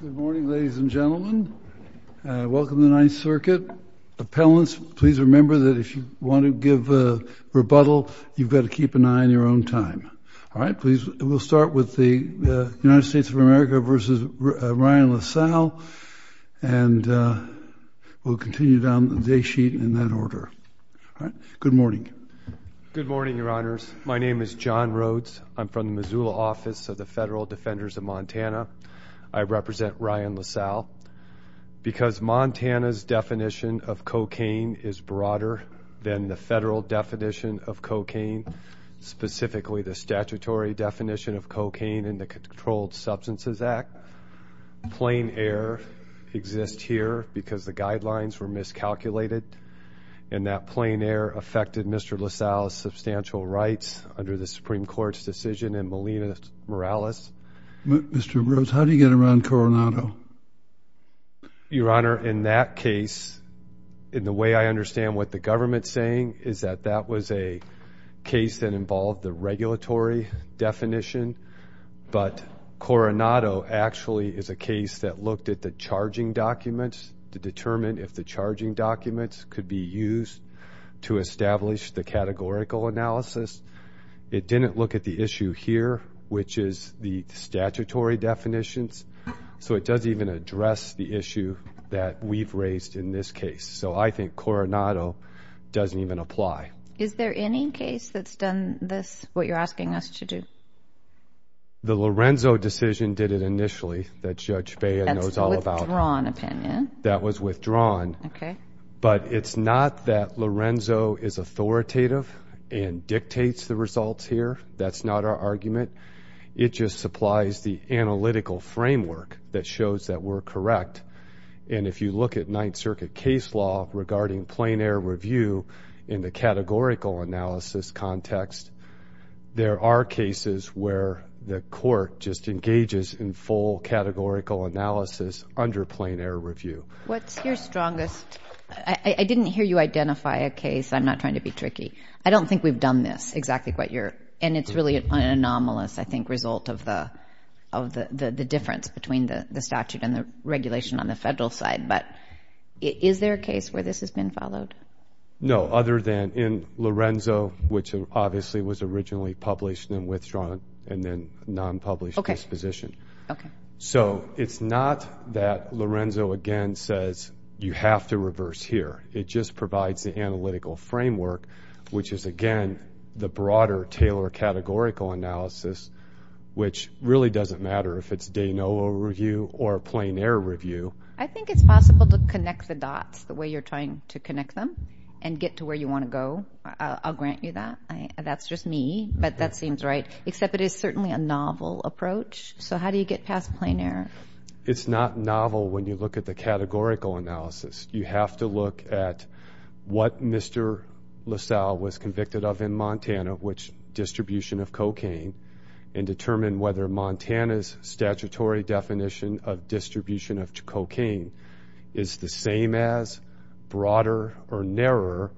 Good morning, ladies and gentlemen. Welcome to the Ninth Circuit. Appellants, please remember that if you want to give a rebuttal, you've got to keep an eye on your own time. All right, please. We'll start with the United States of America v. Ryan Lasalle, and we'll continue down the day sheet in that order. All right, good morning. Good morning, Your Honors. My name is John Rhodes. I'm from the Missoula Office of the Federal Defenders of Montana. I represent Ryan Lasalle. Because Montana's definition of cocaine is broader than the federal definition of cocaine, specifically the statutory definition of cocaine in the Controlled Substances Act, plain air exists here because the guidelines were miscalculated, and that plain air affected Mr. Lasalle's substantial rights under the Supreme Court's decision in Molina Morales. Mr. Rhodes, how do you get around Coronado? Your Honor, in that case, in the way I understand what the government's saying is that that was a case that involved the regulatory definition, but Coronado actually is a case that looked at the charging documents to determine if the charging documents could be used to establish the categorical analysis. It didn't look at the issue here, which is the statutory definitions, so it doesn't even address the issue that we've raised in this case. So I think Coronado doesn't even apply. Is there any case that's done this, what you're asking us to do? The Lorenzo decision did it initially, that Judge Bea knows all about. That was withdrawn. Okay. But it's not that Lorenzo is authoritative and dictates the results here. That's not our argument. It just supplies the analytical framework that shows that we're correct, and if you look at Ninth Circuit case law regarding plain air review in the categorical analysis context, there are cases where the court just engages in full categorical analysis under plain air review. What's your strongest, I didn't hear you identify a case. I'm not trying to be tricky. I don't think we've done this, exactly what you're, and it's really an anomalous, I think, result of the difference between the statute and the regulation on the federal side, but is there a case where this has been followed? No, other than in Lorenzo, which obviously was originally published and withdrawn and then non-published disposition. Okay. So it's not that Lorenzo again says you have to reverse here. It just provides the analytical framework, which is, again, the broader Taylor categorical analysis, which really doesn't matter if it's de novo review or a plain air review. I think it's possible to connect the dots the way you're trying to connect them and get to where you want to go. I'll grant you that. That's just me, but that seems right, except it is certainly a novel approach. So how do you get past plain air? It's not novel when you look at the look at what Mr. LaSalle was convicted of in Montana, which distribution of cocaine, and determine whether Montana's statutory definition of distribution of cocaine is the same as, broader, or narrower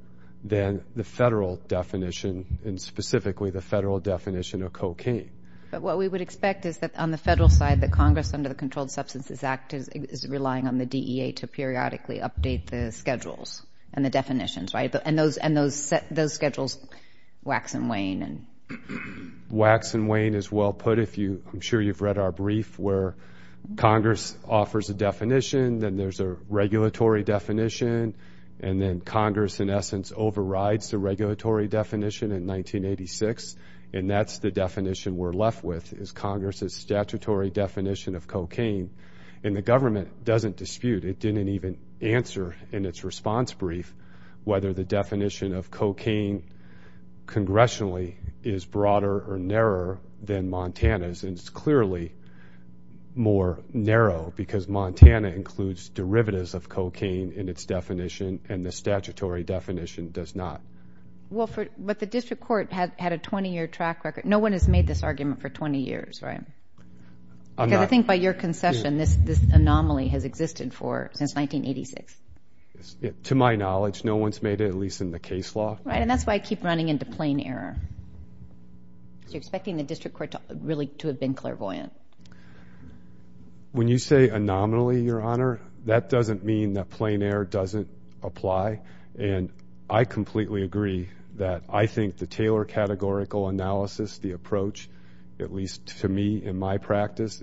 than the federal definition, and specifically the federal definition of cocaine. But what we would expect is that on the federal side, the Congress under the Controlled Substances Act is relying on the DEA to periodically update the schedules and the definitions, right? And those schedules, Wax and Wayne. Wax and Wayne is well put. I'm sure you've read our brief where Congress offers a definition, then there's a regulatory definition, and then Congress, in essence, overrides the regulatory definition in 1986, and that's the definition we're left with, is Congress's statutory definition of cocaine. And the government doesn't dispute, it didn't even answer in its response brief, whether the definition of cocaine congressionally is broader or narrower than Montana's. And it's clearly more narrow, because Montana includes derivatives of cocaine in its definition, and the statutory definition does not. Well, but the district court had a 20-year track record. No one has made this anomaly. Because I think by your concession, this anomaly has existed for, since 1986. To my knowledge, no one's made it, at least in the case law. Right, and that's why I keep running into plain error. You're expecting the district court to really, to have been clairvoyant. When you say anomaly, Your Honor, that doesn't mean that plain error doesn't apply, and I completely agree that I think the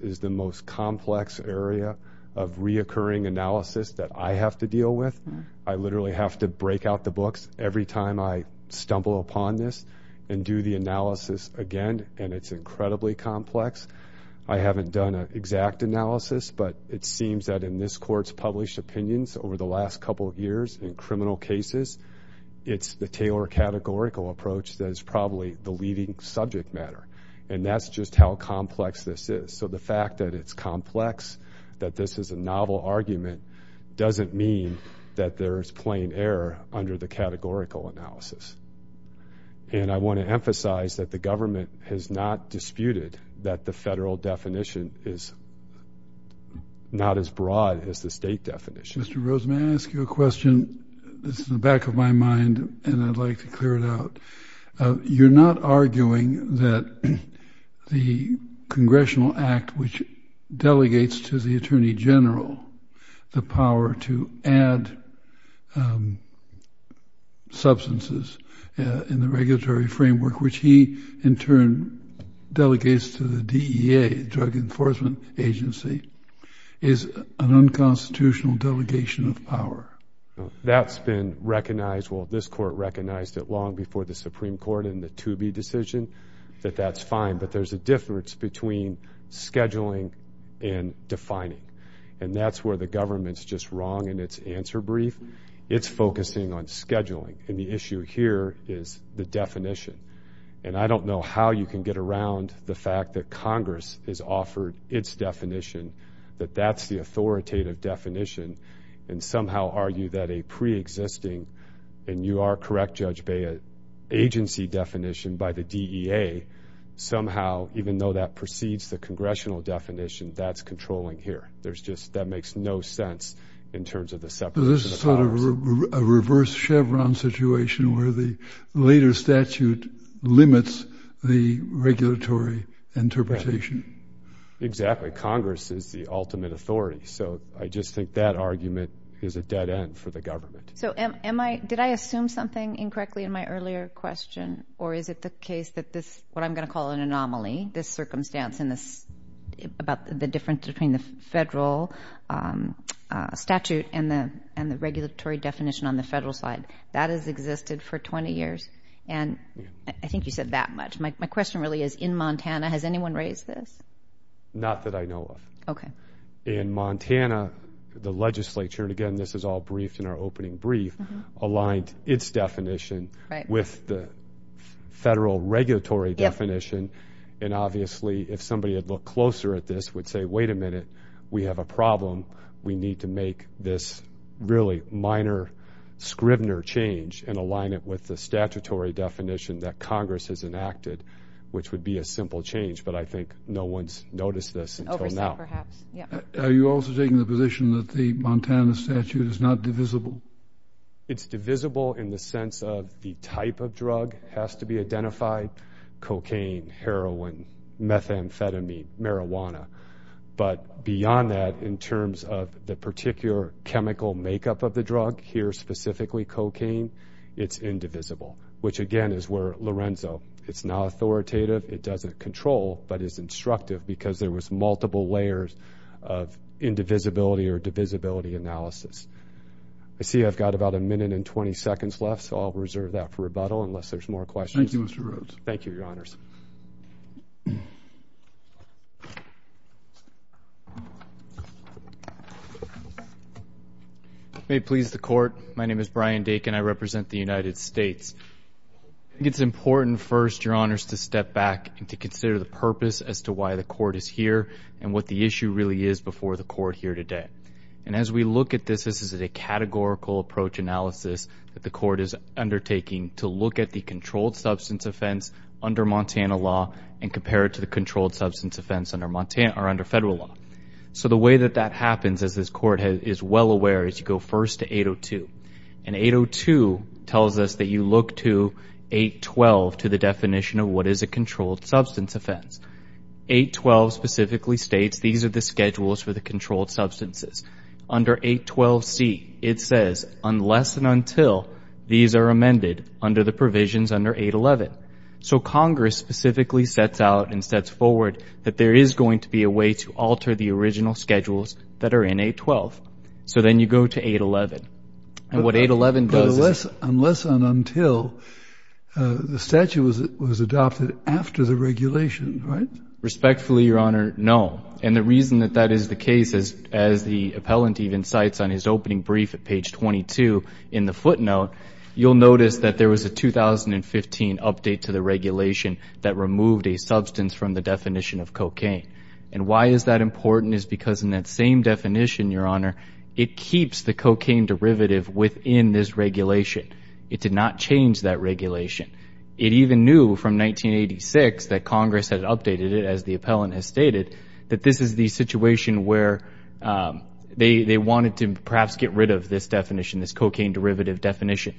is the most complex area of reoccurring analysis that I have to deal with. I literally have to break out the books every time I stumble upon this, and do the analysis again, and it's incredibly complex. I haven't done an exact analysis, but it seems that in this Court's published opinions over the last couple of years, in criminal cases, it's the Taylor categorical approach that is probably the leading subject matter. And that's just how complex this is. So the fact that it's complex, that this is a novel argument, doesn't mean that there's plain error under the categorical analysis. And I want to emphasize that the government has not disputed that the federal definition is not as broad as the state definition. Mr. Rosen, may I ask you a question? This is in the back of my mind, and I'd like to clear it out. You're not arguing that the Congressional Act, which delegates to the Attorney General the power to add substances in the regulatory framework, which he, in turn, delegates to the DEA, Drug Enforcement Agency, is an unconstitutional delegation of power? That's been recognized, well, this Court recognized it long before the Supreme Court in the Toobie decision, that that's fine. But there's a difference between scheduling and defining. And that's where the government's just wrong in its answer brief. It's focusing on scheduling. And the issue here is the definition. And I don't know how you can get around the fact that Congress has offered its definition, that that's the authoritative definition, and somehow argue that a preexisting, and you are the DEA, somehow, even though that precedes the Congressional definition, that's controlling here. There's just, that makes no sense in terms of the separation of powers. So this is sort of a reverse Chevron situation where the later statute limits the regulatory interpretation. Exactly. Congress is the ultimate authority. So I just think that argument is a dead end for the government. So am I, did I assume something incorrectly in my earlier question? Or is it the case that this, what I'm going to call an anomaly, this circumstance in this, about the difference between the federal statute and the regulatory definition on the federal side, that has existed for 20 years? And I think you said that much. My question really is, in Montana, has anyone raised this? Not that I know of. Okay. In Montana, the legislature, and again, this is all briefed in our opening brief, aligned its definition with the federal regulatory definition. And obviously, if somebody had looked closer at this, would say, wait a minute, we have a problem. We need to make this really minor, scrivener change and align it with the statutory definition that Congress has enacted, which would be a simple change. But I think no one's noticed this until now. Are you also taking the position that the Montana statute is not divisible? It's divisible in the sense of the type of drug has to be identified. Cocaine, heroin, methamphetamine, marijuana. But beyond that, in terms of the particular chemical makeup of the drug, here specifically cocaine, it's indivisible. Which again, is where Lorenzo, it's not authoritative, it doesn't control, but it's instructive because there was a divisibility analysis. I see I've got about a minute and 20 seconds left, so I'll reserve that for rebuttal unless there's more questions. Thank you, Mr. Rhodes. Thank you, your honors. May it please the court, my name is Brian Dakin, I represent the United States. I think it's important first, your honors, to step back and to consider the purpose as to why the court is here and what the issue really is before the court here today. And as we look at this, this is a categorical approach analysis that the court is undertaking to look at the controlled substance offense under Montana law and compare it to the controlled substance offense under federal law. So the way that that happens, as this court is well aware, is you go first to 802. And 802 tells us that you look to 812 to the definition of what is a controlled substance offense. 812 specifically states these are the schedules for the controlled substances. Under 812C, it says unless and until these are amended under the provisions under 811. So Congress specifically sets out and sets forward that there is going to be a way to alter the original schedules that are in 812. So then you go to 811. And what 811 does... Unless and until the statute was adopted after the regulation, right? Respectfully, your honor, no. And the reason that that is the case is, as the appellant even cites on his opening brief at page 22 in the footnote, you'll notice that there was a 2015 update to the regulation that removed a substance from the definition of cocaine. And why is that important is because in that same definition, your honor, it keeps the cocaine derivative within this regulation. It did not change that from 1986 that Congress had updated it, as the appellant has stated, that this is the situation where they wanted to perhaps get rid of this definition, this cocaine derivative definition.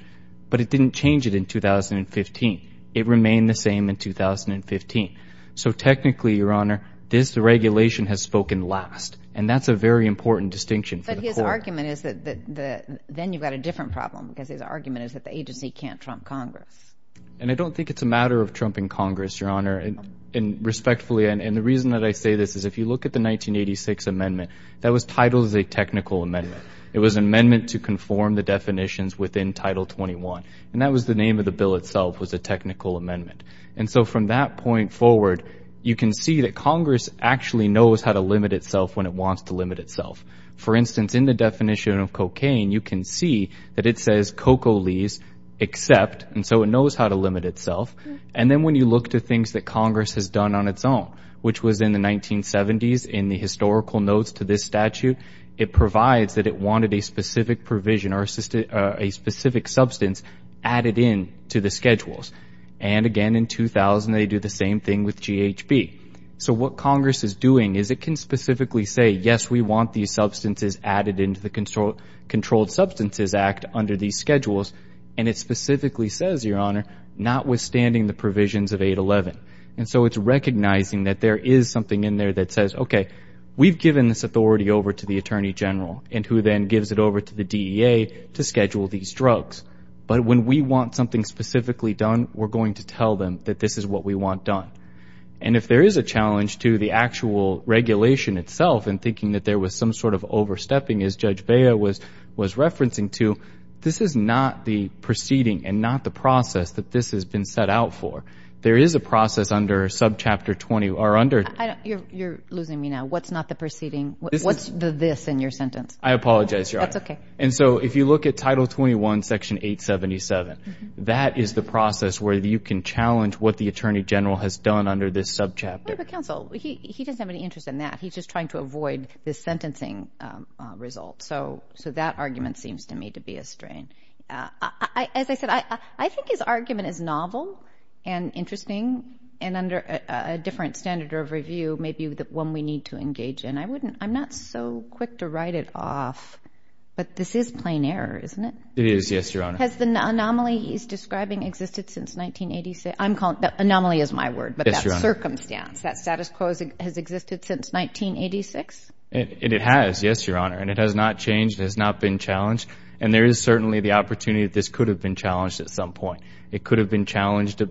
But it didn't change it in 2015. It remained the same in 2015. So technically, your honor, this regulation has spoken last. And that's a very important distinction. But his argument is that then you've got a different problem because his argument is that the agency can't trump Congress. And I don't think it's a matter of trumping Congress, your honor. And respectfully, and the reason that I say this is, if you look at the 1986 amendment, that was titled as a technical amendment. It was an amendment to conform the definitions within Title 21. And that was the name of the bill itself, was a technical amendment. And so from that point forward, you can see that Congress actually knows how to limit itself when it wants to limit itself. For instance, in the definition of cocaine, you can see that it says cocoa leaves except, and so it knows how to limit itself. And then when you look to things that Congress has done on its own, which was in the 1970s in the historical notes to this statute, it provides that it wanted a specific provision or a specific substance added in to the schedules. And again, in 2000, they do the same thing with GHB. So what Congress is doing is it can specifically say, yes, we want these substances added into the Controlled Substances Act under these schedules. And it specifically says, your honor, notwithstanding the provisions of 811. And so it's recognizing that there is something in there that says, okay, we've given this authority over to the Attorney General and who then gives it over to the DEA to schedule these drugs. But when we want something specifically done, we're going to tell them that this is what we want done. And if there is a challenge to the actual regulation itself and thinking that there was some sort of overstepping as I'm referencing to, this is not the proceeding and not the process that this has been set out for. There is a process under subchapter 20 or under... You're losing me now. What's not the proceeding? What's the this in your sentence? I apologize, your honor. That's okay. And so if you look at Title 21, Section 877, that is the process where you can challenge what the Attorney General has done under this subchapter. But counsel, he doesn't have any interest in that. He's just trying to do what seems to me to be a strain. As I said, I think his argument is novel and interesting and under a different standard of review, maybe the one we need to engage in. I'm not so quick to write it off, but this is plain error, isn't it? It is, yes, your honor. Has the anomaly he's describing existed since 1986? Anomaly is my word, but that circumstance, that status quo has existed since 1986? It has, yes, your honor. And it has not changed. It has not been challenged. And there is certainly the opportunity that this could have been challenged at some point. It could have been challenged,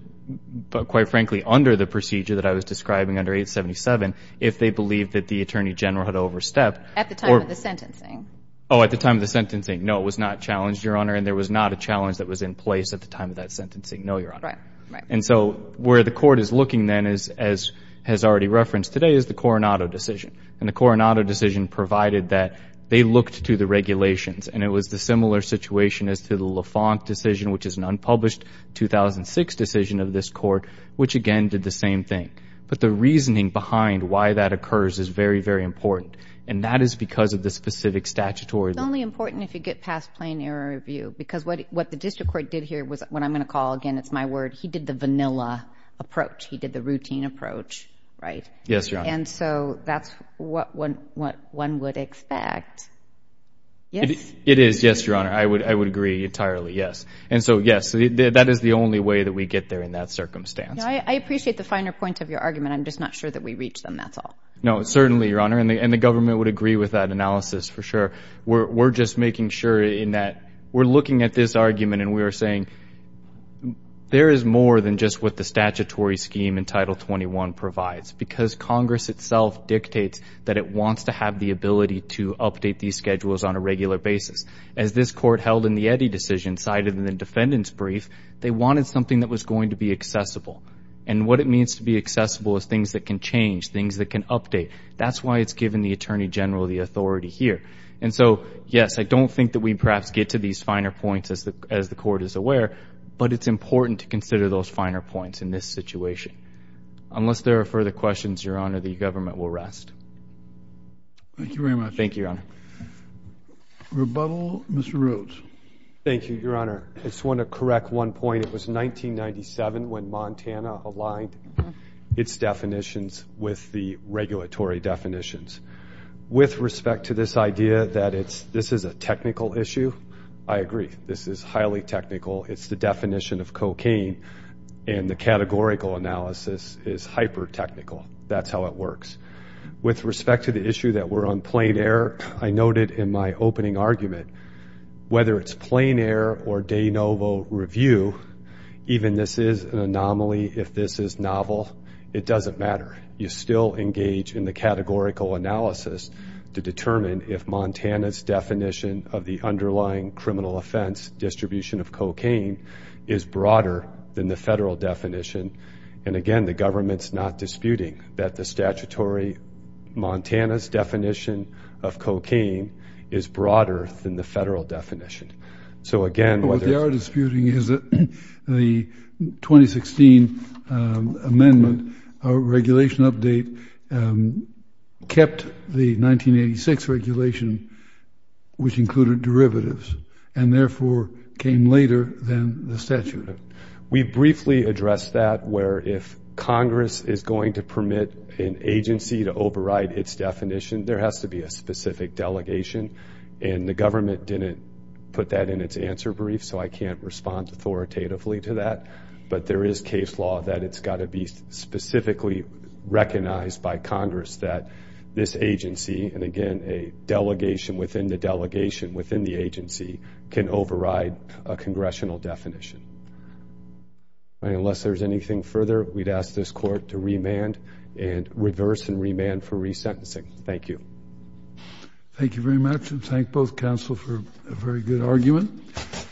quite frankly, under the procedure that I was describing under 877 if they believed that the Attorney General had overstepped. At the time of the sentencing. Oh, at the time of the sentencing. No, it was not challenged, your honor. And there was not a challenge that was in place at the time of that sentencing. No, your honor. Right. Right. And so where the court is looking then, as has already referenced today, is the Coronado decision. And the Coronado decision provided that they looked to the regulations. And it was the similar situation as to the Lafonte decision, which is an unpublished 2006 decision of this court, which again did the same thing. But the reasoning behind why that occurs is very, very important. And that is because of the specific statutory It's only important if you get past plain error review. Because what the district court did here was what I'm going to call, again, it's my word, he did the vanilla approach. He did the routine approach, right? Yes, your honor. And so that's what one would expect. Yes? It is, yes, your honor. I would agree entirely, yes. And so, yes, that is the only way that we get there in that circumstance. I appreciate the finer point of your argument. I'm just not sure that we reach them, that's all. No, certainly, your honor. And the government would agree with that analysis for sure. We're just making sure in that we're looking at this argument and we are saying there is more than just what the statutory scheme in Title 21 provides. Because Congress itself dictates that it wants to have the ability to update these schedules on a regular basis. As this court held in the Eddy decision, cited in the defendant's brief, they wanted something that was going to be accessible. And what it means to be accessible is things that can change, things that can update. That's why it's given the attorney general the authority here. And so, yes, I don't think that we perhaps get to these finer points as the court is aware, but it's important to consider those finer points in this situation. Unless there are further questions, your honor, the government will rest. Thank you very much. Thank you, your honor. Rebuttal, Mr. Rhodes. Thank you, your honor. I just want to correct one point. It was 1997 when Montana aligned its definitions with the regulatory definitions. With respect to this idea that this is a technical issue, I agree. This is categorical analysis is hyper-technical. That's how it works. With respect to the issue that we're on plain air, I noted in my opening argument, whether it's plain air or de novo review, even this is an anomaly, if this is novel, it doesn't matter. You still engage in the categorical analysis to determine if Montana's definition of the underlying criminal offense distribution of cocaine is broader than the federal definition. And again, the government's not disputing that the statutory Montana's definition of cocaine is broader than the federal definition. So again, whether... What they are disputing is that the 2016 amendment, our regulation update, kept the 1986 regulation, which included derivatives, and therefore came later than the statute. We briefly addressed that where if Congress is going to permit an agency to override its definition, there has to be a specific delegation. And the government didn't put that in its answer brief, so I can't respond authoritatively to that. But there is case law that it's got to be specifically recognized by Congress that this agency, and again, a delegation within the delegation within the agency, can override a regulation. Unless there's anything further, we'd ask this court to remand and reverse and remand for resentencing. Thank you. Thank you very much, and thank both counsel for a very good argument.